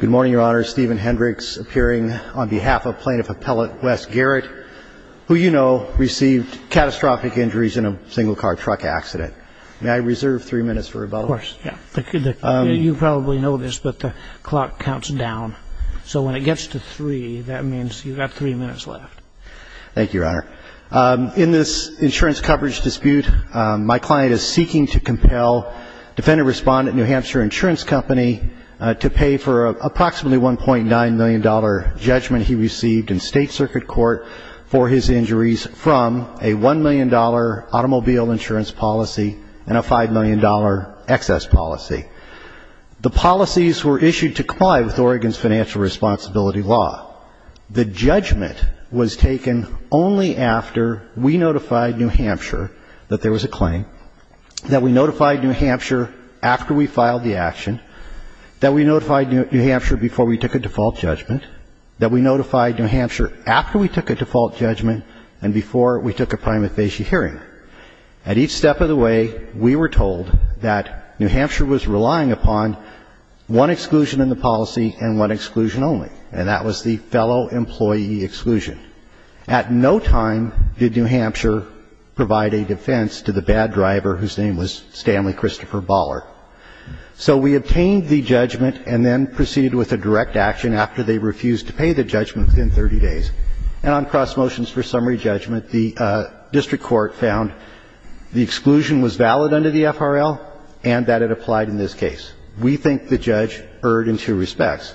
Good morning, Your Honor. Stephen Hendricks appearing on behalf of Plaintiff Appellate Wes Garrett, who you know received catastrophic injuries in a single-car truck accident. May I reserve three minutes for rebuttal? Of course, yeah. You probably know this, but the clock counts down. So when it gets to three, that means you've got three minutes left. Thank you, Your Honor. In this insurance coverage dispute, my client is seeking to compel Defendant Respondent New Hampshire Insurance Company to pay for approximately $1.9 million judgment he received in State Circuit Court for his injuries from a $1 million automobile insurance policy and a $5 million excess policy. The policies were issued to comply with Oregon's financial responsibility law. The judgment was taken only after we notified New Hampshire that there was a claim, that we notified New Hampshire after we filed the action, that we notified New Hampshire before we took a default judgment, that we notified New Hampshire after we took a default judgment and before we took a prima facie hearing. At each step of the way, we were told that New Hampshire was relying upon one exclusion in the policy and one exclusion only, and that was the fellow employee exclusion. At no time did New Hampshire provide a defense to the bad driver whose name was Stanley Christopher Baller. So we obtained the judgment and then proceeded with a direct action after they refused to pay the judgment within 30 days. And on cross motions for summary judgment, the district court found the exclusion was valid under the FRL and that it applied in this case. We think the judge erred in two respects.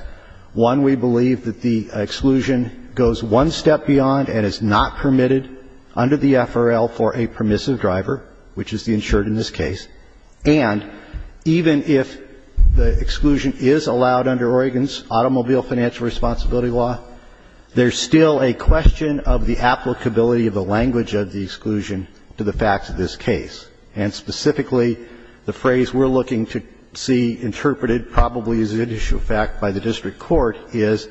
One, we believe that the exclusion goes one step beyond and is not permitted under the FRL for a permissive driver, which is the insured in this case. And even if the exclusion is allowed under Oregon's automobile financial responsibility law, there's still a question of the applicability of the language of the exclusion to the facts of this case. And specifically, the phrase we're looking to see interpreted probably as an issue of fact by the district court is,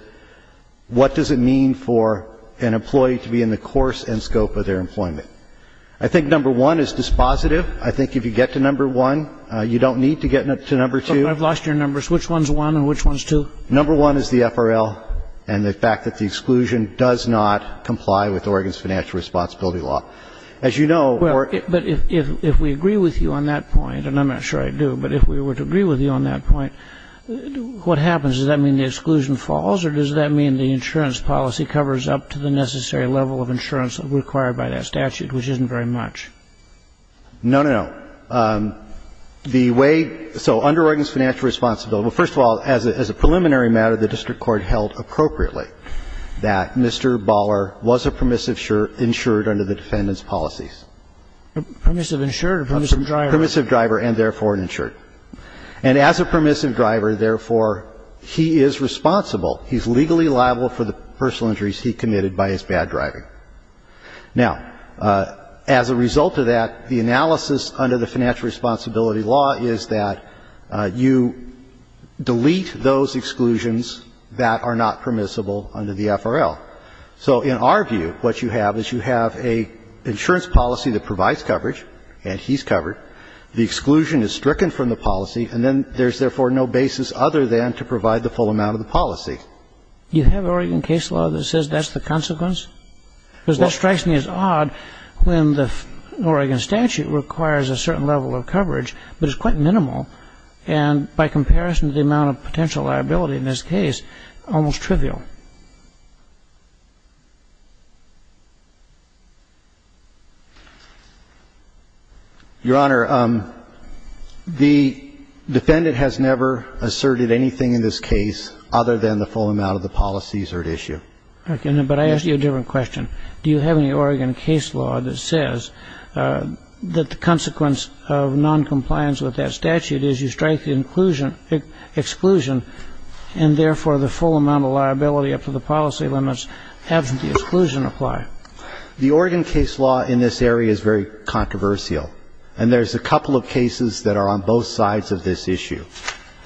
what does it mean for an employee to be in the course and scope of their employment? I think number one is dispositive. I think if you get to number one, you don't need to get to number two. I've lost your numbers. Which one's one and which one's two? Number one is the FRL and the fact that the exclusion does not comply with Oregon's financial responsibility law. As you know, or ‑‑ Well, but if we agree with you on that point, and I'm not sure I do, but if we were to agree with you on that point, what happens? Does that mean the exclusion falls or does that mean the insurance policy covers up to the necessary level of insurance required by that statute, which isn't very much? No, no, no. The way ‑‑ so under Oregon's financial responsibility, well, first of all, as a preliminary matter, the district court held appropriately that Mr. Baller was a permissive insured under the defendant's policies. Permissive insured or permissive driver? Permissive driver and therefore an insured. And as a permissive driver, therefore, he is responsible. He's legally liable for the personal injuries he committed by his bad driving. Now, as a result of that, the analysis under the financial responsibility law is that you delete those exclusions that are not permissible under the FRL. So in our view, what you have is you have an insurance policy that provides coverage, and he's covered. The exclusion is stricken from the policy, and then there's, therefore, no basis other than to provide the full amount of the policy. You have Oregon case law that says that's the consequence? Well ‑‑ Because that strikes me as odd when the Oregon statute requires a certain level of coverage, but it's quite minimal, and by comparison to the amount of potential liability in this case, almost trivial. Your Honor, the defendant has never asserted anything in this case other than the full amount of the policies are at issue. Okay. But I ask you a different question. Do you have any Oregon case law that says that the consequence of noncompliance with that statute is you strike the exclusion, and, therefore, the full amount of liability up to the policy limits after the exclusion apply? The Oregon case law in this area is very controversial, and there's a couple of cases that are on both sides of this issue,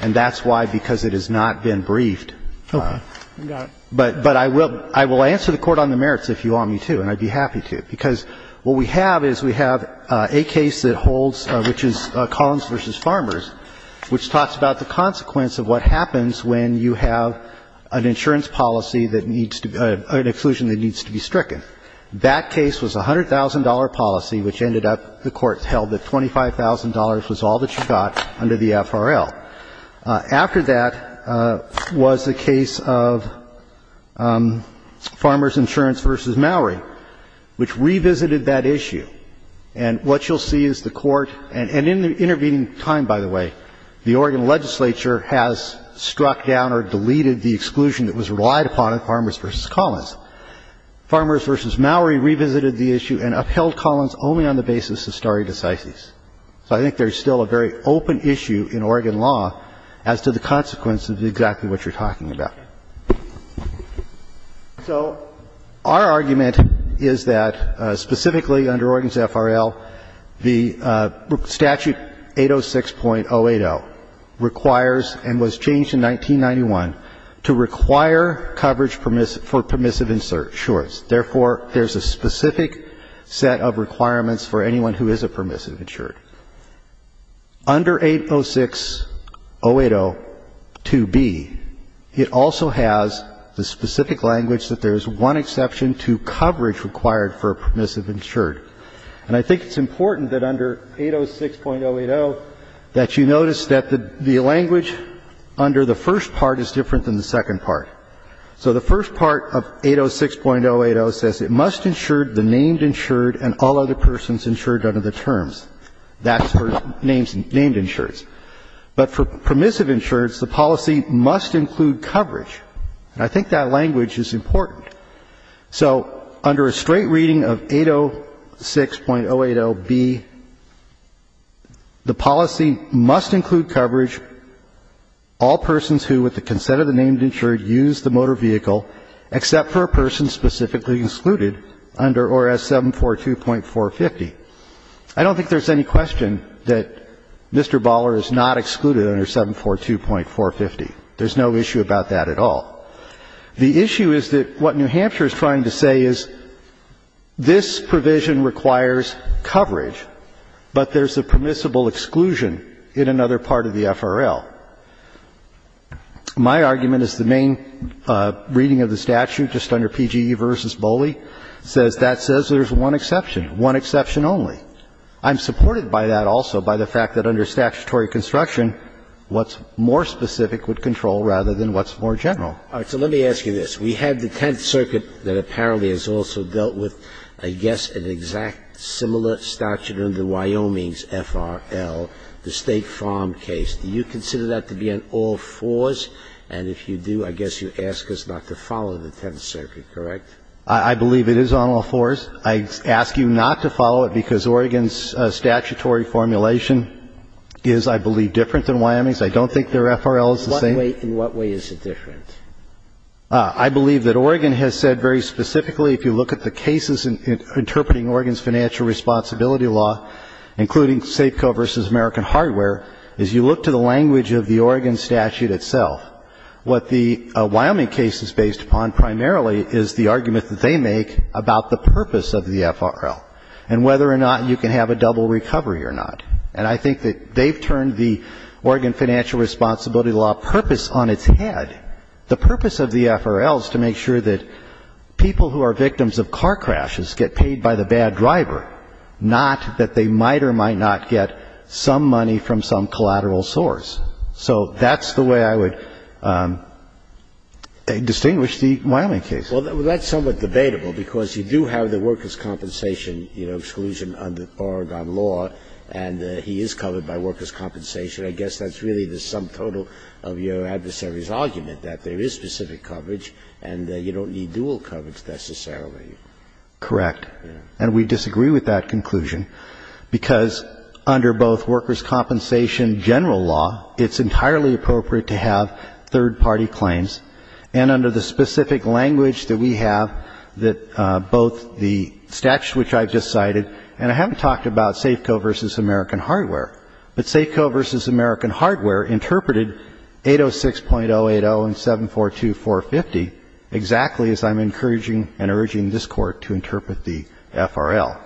and that's why, because it has not been briefed. Okay. Got it. But I will answer the Court on the merits if you want me to, and I'd be happy to, because what we have is we have a case that holds, which is Collins v. Farmers, which talks about the consequence of what happens when you have an insurance policy that needs to be an exclusion that needs to be stricken. That case was a $100,000 policy, which ended up, the Court held, that $25,000 was all that you got under the FRL. After that was the case of Farmers Insurance v. Maury, which revisited that issue. And what you'll see is the Court, and in the intervening time, by the way, the Oregon legislature has struck down or deleted the exclusion that was relied upon in Farmers v. Collins. Farmers v. Maury revisited the issue and upheld Collins only on the basis of stare decisis. So I think there's still a very open issue in Oregon law as to the consequence of exactly what you're talking about. So our argument is that specifically under Oregon's FRL, the statute 806.080 requires and was changed in 1991 to require coverage for permissive insurance. Therefore, there's a specific set of requirements for anyone who is a permissive insured. Under 806.080.2b, it also has the specific language that there is one exception to coverage required for a permissive insured. And I think it's important that under 806.080 that you notice that the language under the first part is different than the second part. So the first part of 806.080 says it must insure the named insured and all other persons insured under the terms. That's for named insureds. But for permissive insureds, the policy must include coverage. And I think that language is important. So under a straight reading of 806.080b, the policy must include coverage, all persons who, with the consent of the named insured, use the motor vehicle, except for a person specifically excluded under ORS 742.450. I don't think there's any question that Mr. Baller is not excluded under 742.450. There's no issue about that at all. The issue is that what New Hampshire is trying to say is this provision requires coverage, but there's a permissible exclusion in another part of the FRL. My argument is the main reading of the statute just under PGE v. Boley says that says there's one exception, one exception only. I'm supported by that also by the fact that under statutory construction, what's more specific would control rather than what's more general. So let me ask you this. We have the Tenth Circuit that apparently has also dealt with, I guess, an exact similar statute under Wyoming's FRL, the State Farm case. Do you consider that to be on all fours? And if you do, I guess you ask us not to follow the Tenth Circuit, correct? I believe it is on all fours. I ask you not to follow it because Oregon's statutory formulation is, I believe, different than Wyoming's. I don't think their FRL is the same. In what way is it different? I believe that Oregon has said very specifically, if you look at the cases interpreting Oregon's financial responsibility law, including Safeco v. American Hardware, is you look to the language of the Oregon statute itself, what the Wyoming case is based upon primarily is the argument that they make about the purpose of the FRL and whether or not you can have a double recovery or not. And I think that they've turned the Oregon financial responsibility law purpose on its head. The purpose of the FRL is to make sure that people who are victims of car crashes get paid by the bad driver, not that they might or might not get some money from some collateral source. So that's the way I would distinguish the Wyoming case. Well, that's somewhat debatable because you do have the workers' compensation, you know, exclusion under Oregon law, and he is covered by workers' compensation. I guess that's really the sum total of your adversary's argument, that there is specific coverage and you don't need dual coverage necessarily. Correct. And we disagree with that conclusion because under both workers' compensation general law, it's entirely appropriate to have third-party claims. And under the specific language that we have that both the statute, which I've just cited, and I haven't talked about Safeco v. American Hardware, but Safeco v. American Hardware interpreted 806.080 and 742.450 exactly as I'm encouraging and urging this Court to interpret the FRL.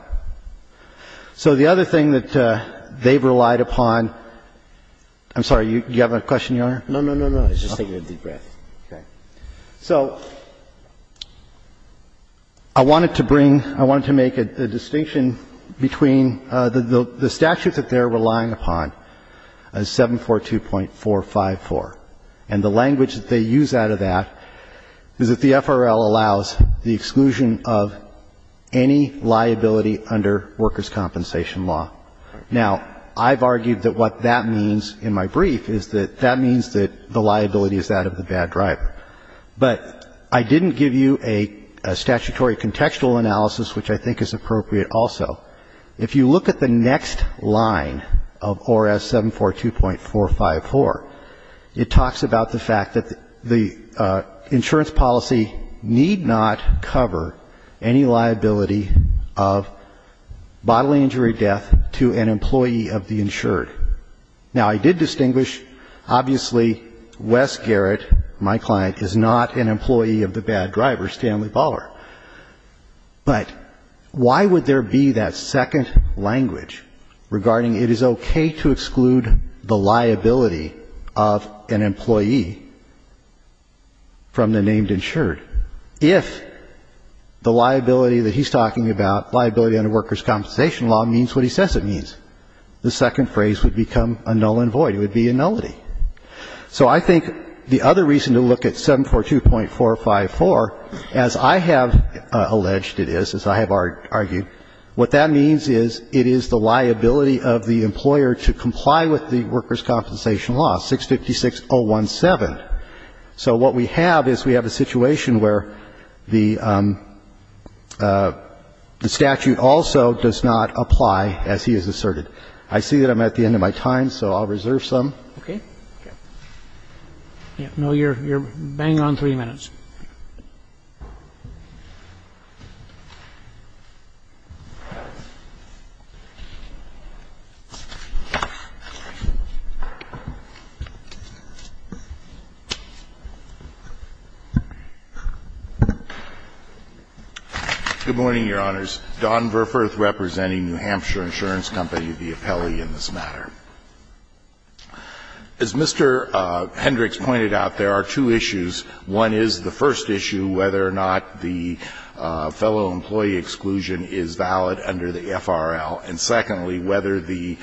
So the other thing that they've relied upon — I'm sorry. Do you have a question, Your Honor? No, no, no. I was just taking a deep breath. Okay. So I wanted to bring — I wanted to make a distinction between the statute that they're relying upon, 742.454, and the language that they use out of that is that the FRL allows the exclusion of any liability under workers' compensation law. Now, I've argued that what that means in my brief is that that means that the liability is that of the bad driver. But I didn't give you a statutory contextual analysis, which I think is appropriate also. If you look at the next line of ORS 742.454, it talks about the fact that the insurance policy need not cover any liability of bodily injury or death to an employee of the insured. Now, I did distinguish. Obviously, Wes Garrett, my client, is not an employee of the bad driver, Stanley Baller. But why would there be that second language regarding it is okay to exclude the liability of an employee from the named insured if the liability that he's talking about, liability under workers' compensation law, means what he says it means? The second phrase would become a null and void. It would be a nullity. So I think the other reason to look at 742.454, as I have alleged it is, as I have argued, what that means is it is the liability of the employer to comply with the workers' compensation law, 656.017. So what we have is we have a situation where the statute also does not apply, as he has asserted. I see that I'm at the end of my time, so I'll reserve some. Roberts. No, you're banging on three minutes. Good morning, Your Honors. Don Verfurth representing New Hampshire Insurance Company, the appellee in this matter. As Mr. Hendricks pointed out, there are two issues. One is the first issue, whether or not the fellow employee exclusion is valid under the FRL, and secondly, whether the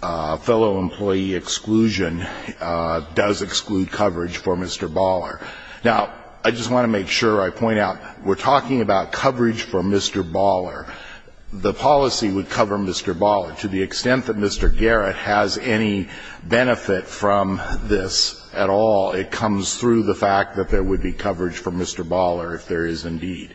fellow employee exclusion does exclude coverage for Mr. Baller. Now, I just want to make sure I point out, we're talking about coverage for Mr. Baller. The policy would cover Mr. Baller. To the extent that Mr. Garrett has any benefit from this at all, it comes through the fact that there would be coverage for Mr. Baller if there is indeed.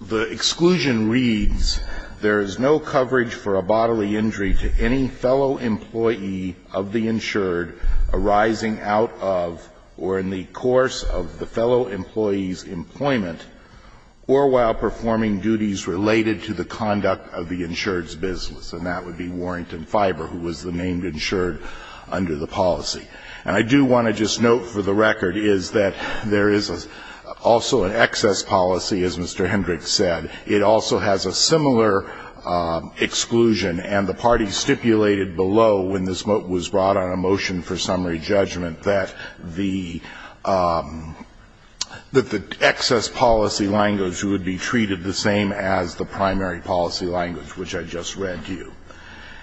The exclusion reads, There is no coverage for a bodily injury to any fellow employee of the insured arising out of or in the course of the fellow employee's employment or while performing duties related to the conduct of the insured's business. And that would be Warrington Fiber, who was the named insured under the policy. And I do want to just note for the record is that there is also an excess policy, as Mr. Hendricks said. It also has a similar exclusion. And the party stipulated below, when this was brought on a motion for summary policy language, which I just read to you.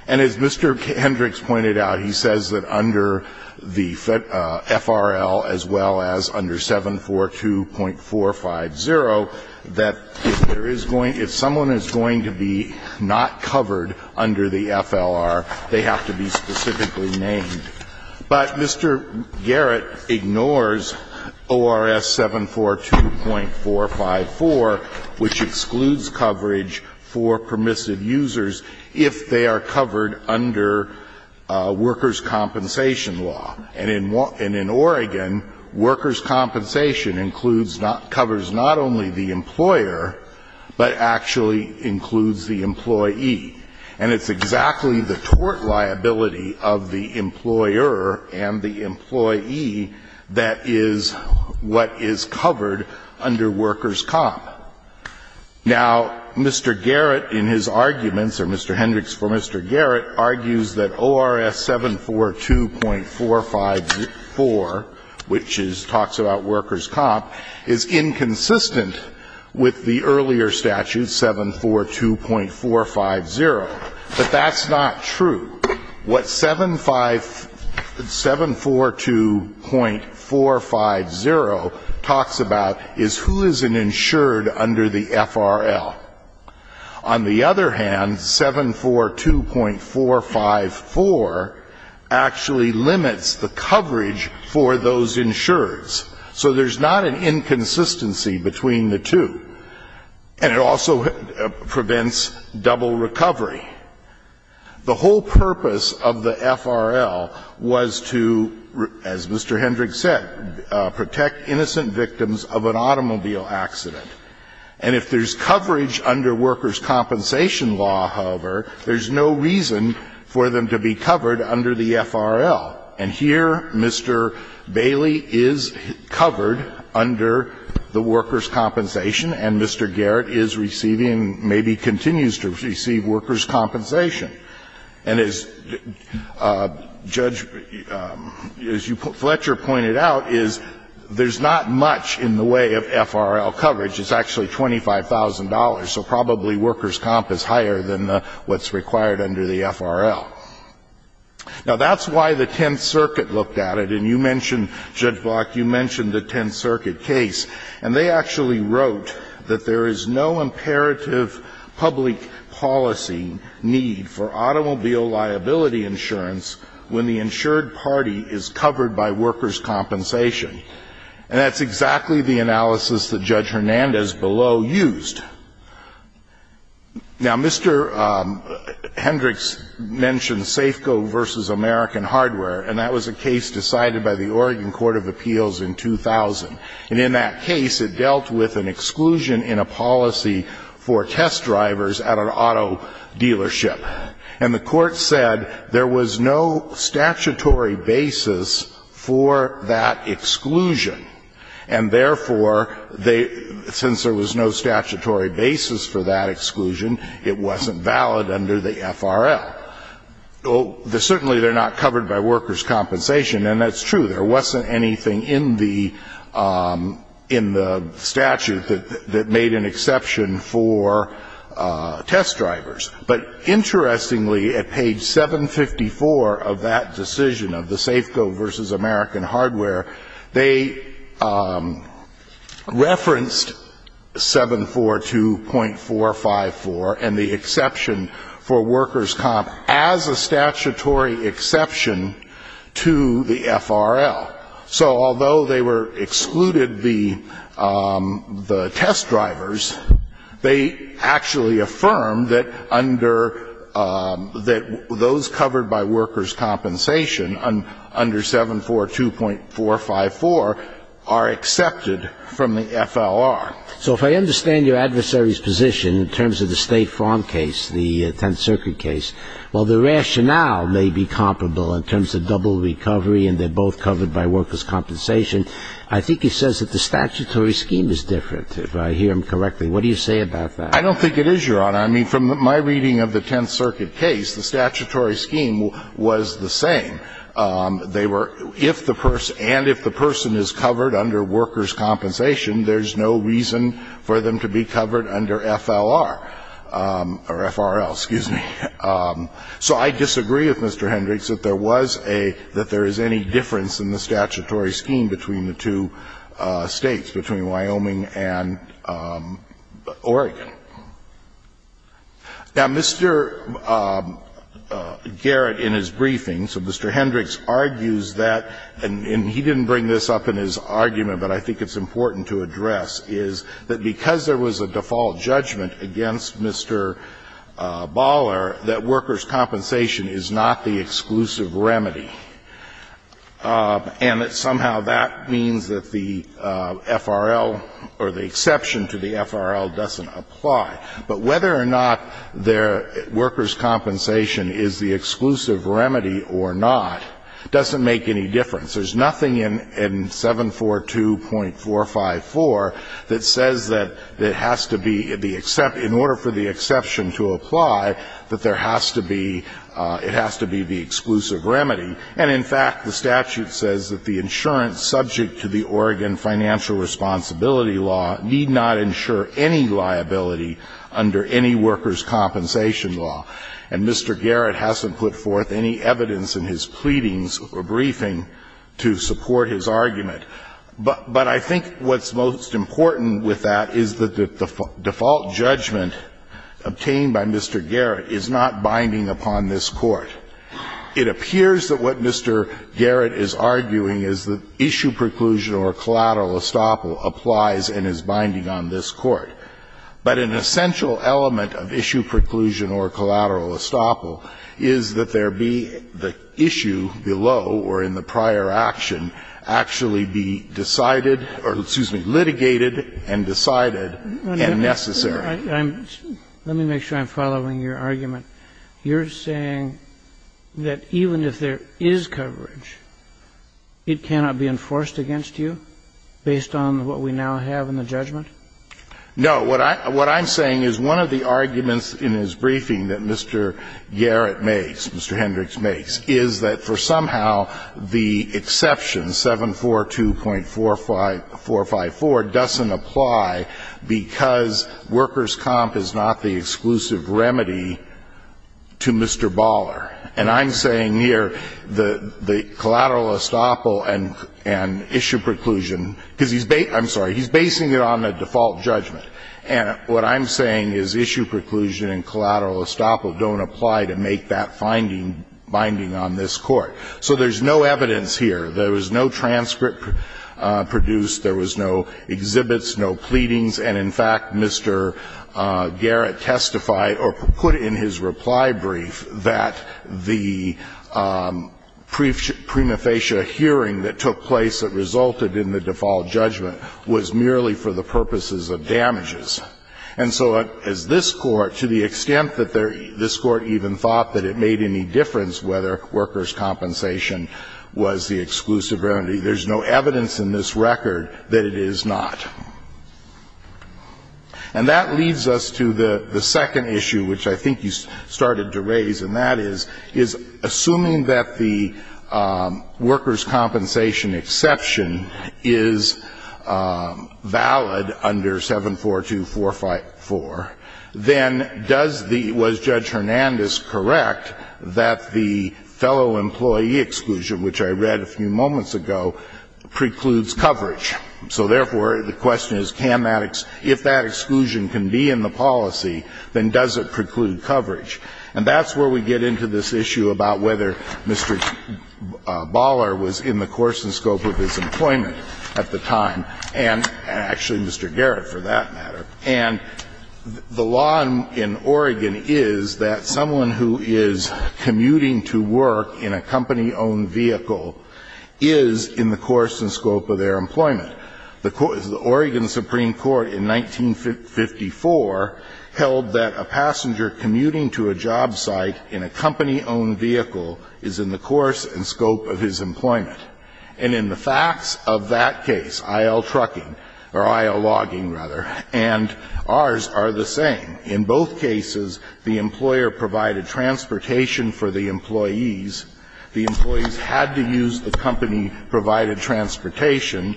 And as Mr. Hendricks pointed out, he says that under the FRL, as well as under 742.450, that if there is going to be, if someone is going to be not covered under the FLR, they have to be specifically named. But Mr. Garrett ignores ORS 742.454, which excludes coverage for permissive users if they are covered under workers' compensation law. And in Oregon, workers' compensation includes, covers not only the employer, but actually includes the employee. And it's exactly the tort liability of the employer and the employee that is what is covered under workers' comp. Now, Mr. Garrett, in his arguments, or Mr. Hendricks for Mr. Garrett, argues that ORS 742.454, which is, talks about workers' comp, is inconsistent with the earlier statute, 742.450. But that's not true. What 742.450 talks about is who is an insured under the FRL. On the other hand, 742.454 actually limits the coverage for those insureds. So there's not an inconsistency between the two. And it also prevents double recovery. The whole purpose of the FRL was to, as Mr. Hendricks said, protect innocent victims of an automobile accident. And if there's coverage under workers' compensation law, however, there's no reason for them to be covered under the FRL. And here, Mr. Bailey is covered under the workers' compensation, and Mr. Garrett is receiving, maybe continues to receive workers' compensation. And as Judge Fletcher pointed out, is there's not much in the way of FRL coverage. It's actually $25,000. So probably workers' comp is higher than what's required under the FRL. Now, that's why the Tenth Circuit looked at it. And you mentioned, Judge Block, you mentioned the Tenth Circuit case. And they actually wrote that there is no imperative public policy need for automobile liability insurance when the insured party is covered by workers' compensation. And that's exactly the analysis that Judge Hernandez below used. Now, Mr. Hendricks mentioned Safeco v. American Hardware. And that was a case decided by the Oregon Court of Appeals in 2000. And in that case, it dealt with an exclusion in a policy for test drivers at an auto dealership. And the Court said there was no statutory basis for that exclusion. And therefore, since there was no statutory basis for that exclusion, it wasn't valid under the FRL. Certainly, they're not covered by workers' compensation. And that's true. There wasn't anything in the statute that made an exception for test drivers. But interestingly, at page 754 of that decision of the Safeco v. American Hardware, they referenced 742.454 and the exception for workers' comp as a statutory exception to the FRL. So although they were excluded the test drivers, they actually affirmed that those covered by workers' compensation under 742.454 are accepted from the FLR. So if I understand your adversary's position in terms of the State Farm case, the Tenth Circuit case, while the rationale may be comparable in terms of double recovery and they're both covered by workers' compensation, I think he says that the statutory scheme is different, if I hear him correctly. What do you say about that? I don't think it is, Your Honor. I mean, from my reading of the Tenth Circuit case, the statutory scheme was the same. They were – if the person – and if the person is covered under workers' compensation, there's no reason for them to be covered under FLR or FRL, excuse me. So I disagree with Mr. Hendricks that there was a – that there is any difference in the statutory scheme between the two States, between Wyoming and Oregon. Now, Mr. Garrett in his briefing, so Mr. Hendricks argues that, and he didn't bring this up in his argument but I think it's important to address, is that because there was a default judgment against Mr. Baller that workers' compensation is not the exclusive remedy and that somehow that means that the FRL or the exception to the FRL doesn't apply, but whether or not workers' compensation is the exclusive remedy or not doesn't make any difference. There's nothing in 742.454 that says that it has to be the – in order for the exception to apply, that there has to be – it has to be the exclusive remedy. And in fact, the statute says that the insurance subject to the Oregon financial responsibility law need not insure any liability under any workers' compensation law. And Mr. Garrett hasn't put forth any evidence in his pleadings or briefing to support his argument. But I think what's most important with that is that the default judgment obtained by Mr. Garrett is not binding upon this Court. It appears that what Mr. Garrett is arguing is that issue preclusion or collateral estoppel applies and is binding on this Court. But an essential element of issue preclusion or collateral estoppel is that there cannot be the issue below or in the prior action actually be decided or, excuse me, litigated and decided and necessary. Let me make sure I'm following your argument. You're saying that even if there is coverage, it cannot be enforced against you based on what we now have in the judgment? No. What I'm saying is one of the arguments in his briefing that Mr. Garrett makes, Mr. Hendricks makes, is that for somehow the exception 742.454 doesn't apply because workers' comp is not the exclusive remedy to Mr. Baller. And I'm saying here the collateral estoppel and issue preclusion, because he's based I'm sorry, he's basing it on the default judgment. And what I'm saying is issue preclusion and collateral estoppel don't apply to make that finding binding on this Court. So there's no evidence here. There was no transcript produced. There was no exhibits, no pleadings. And, in fact, Mr. Garrett testified or put in his reply brief that the prima facie that resulted in the default judgment was merely for the purposes of damages. And so as this Court, to the extent that this Court even thought that it made any difference whether workers' compensation was the exclusive remedy, there's no evidence in this record that it is not. And that leads us to the second issue, which I think you started to raise, and that is, is assuming that the workers' compensation exception is valid under 742.454, then does the was Judge Hernandez correct that the fellow employee exclusion, which I read a few moments ago, precludes coverage? So, therefore, the question is can that if that exclusion can be in the policy, then does it preclude coverage? And that's where we get into this issue about whether Mr. Baller was in the course and scope of his employment at the time, and actually Mr. Garrett, for that matter. And the law in Oregon is that someone who is commuting to work in a company-owned vehicle is in the course and scope of their employment. The Oregon Supreme Court in 1954 held that a passenger commuting to a job site in a company-owned vehicle is in the course and scope of his employment. And in the facts of that case, I.L. trucking, or I.L. logging, rather, and ours are the same, in both cases the employer provided transportation for the employees, the employees had to use the company-provided transportation,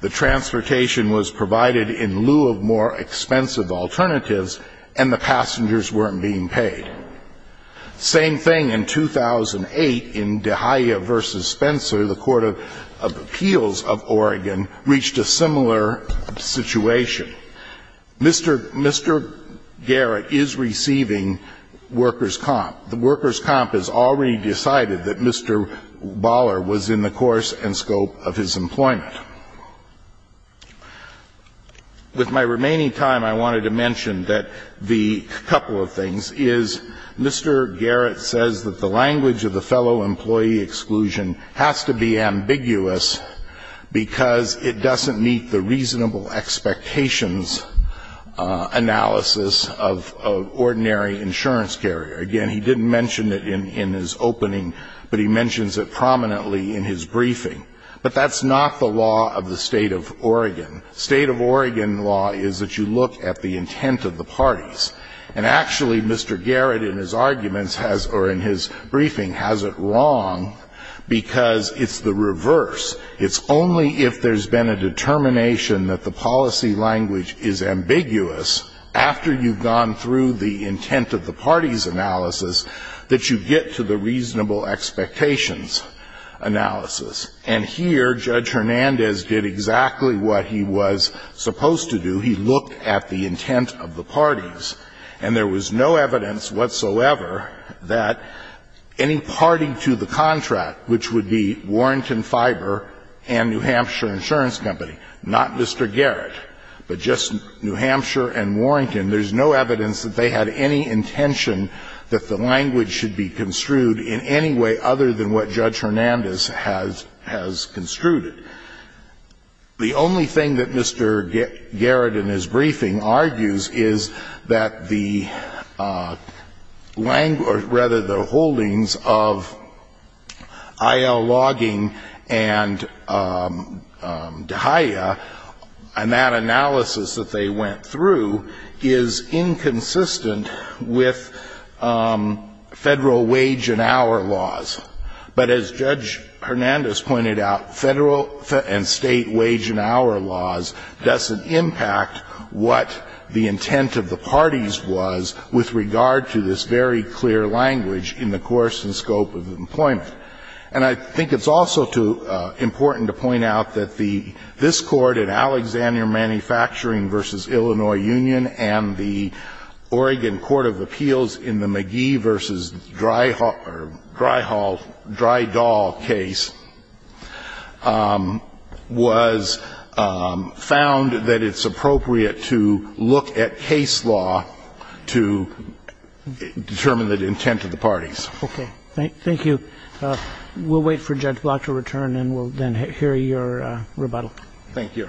the transportation was provided in lieu of more expensive alternatives, and the passengers weren't being paid. Same thing in 2008 in DeGaia v. Spencer, the Court of Appeals of Oregon, reached a similar situation. Mr. Garrett is receiving workers' comp. The workers' comp has already decided that Mr. Baller was in the course and scope of his employment. With my remaining time, I wanted to mention that the couple of things is Mr. Garrett says that the language of the fellow employee exclusion has to be ambiguous because it doesn't meet the reasonable expectations analysis of ordinary insurance carrier. Again, he didn't mention it in his opening, but he mentions it prominently in his briefing. But that's not the law of the State of Oregon. State of Oregon law is that you look at the intent of the parties. And actually, Mr. Garrett in his arguments has, or in his briefing, has it wrong because it's the reverse. It's only if there's been a determination that the policy language is ambiguous after you've gone through the intent of the parties analysis that you get to the reasonable expectations analysis. And here, Judge Hernandez did exactly what he was supposed to do. He looked at the intent of the parties. And there was no evidence whatsoever that any party to the contract, which would be Warrington Fiber and New Hampshire Insurance Company, not Mr. Garrett, but just New Hampshire and Warrington, there's no evidence that they had any intention that the language should be construed in any way other than what Judge Hernandez has construed. The only thing that Mr. Garrett in his briefing argues is that the language or rather the holdings of I.L. Logging and De Haya, and that analysis that they went through, is inconsistent with Federal wage and hour laws. But as Judge Hernandez pointed out, Federal and State wage and hour laws doesn't impact what the intent of the parties was with regard to this very clear, clear language in the course and scope of the employment. And I think it's also important to point out that this Court in Alexander Manufacturing v. Illinois Union and the Oregon Court of Appeals in the Magee v. Dry Hall, Dry Doll case was found that it's appropriate to look at case law to determine the intent of the parties. Okay. Thank you. We'll wait for Judge Block to return and we'll then hear your rebuttal. Thank you.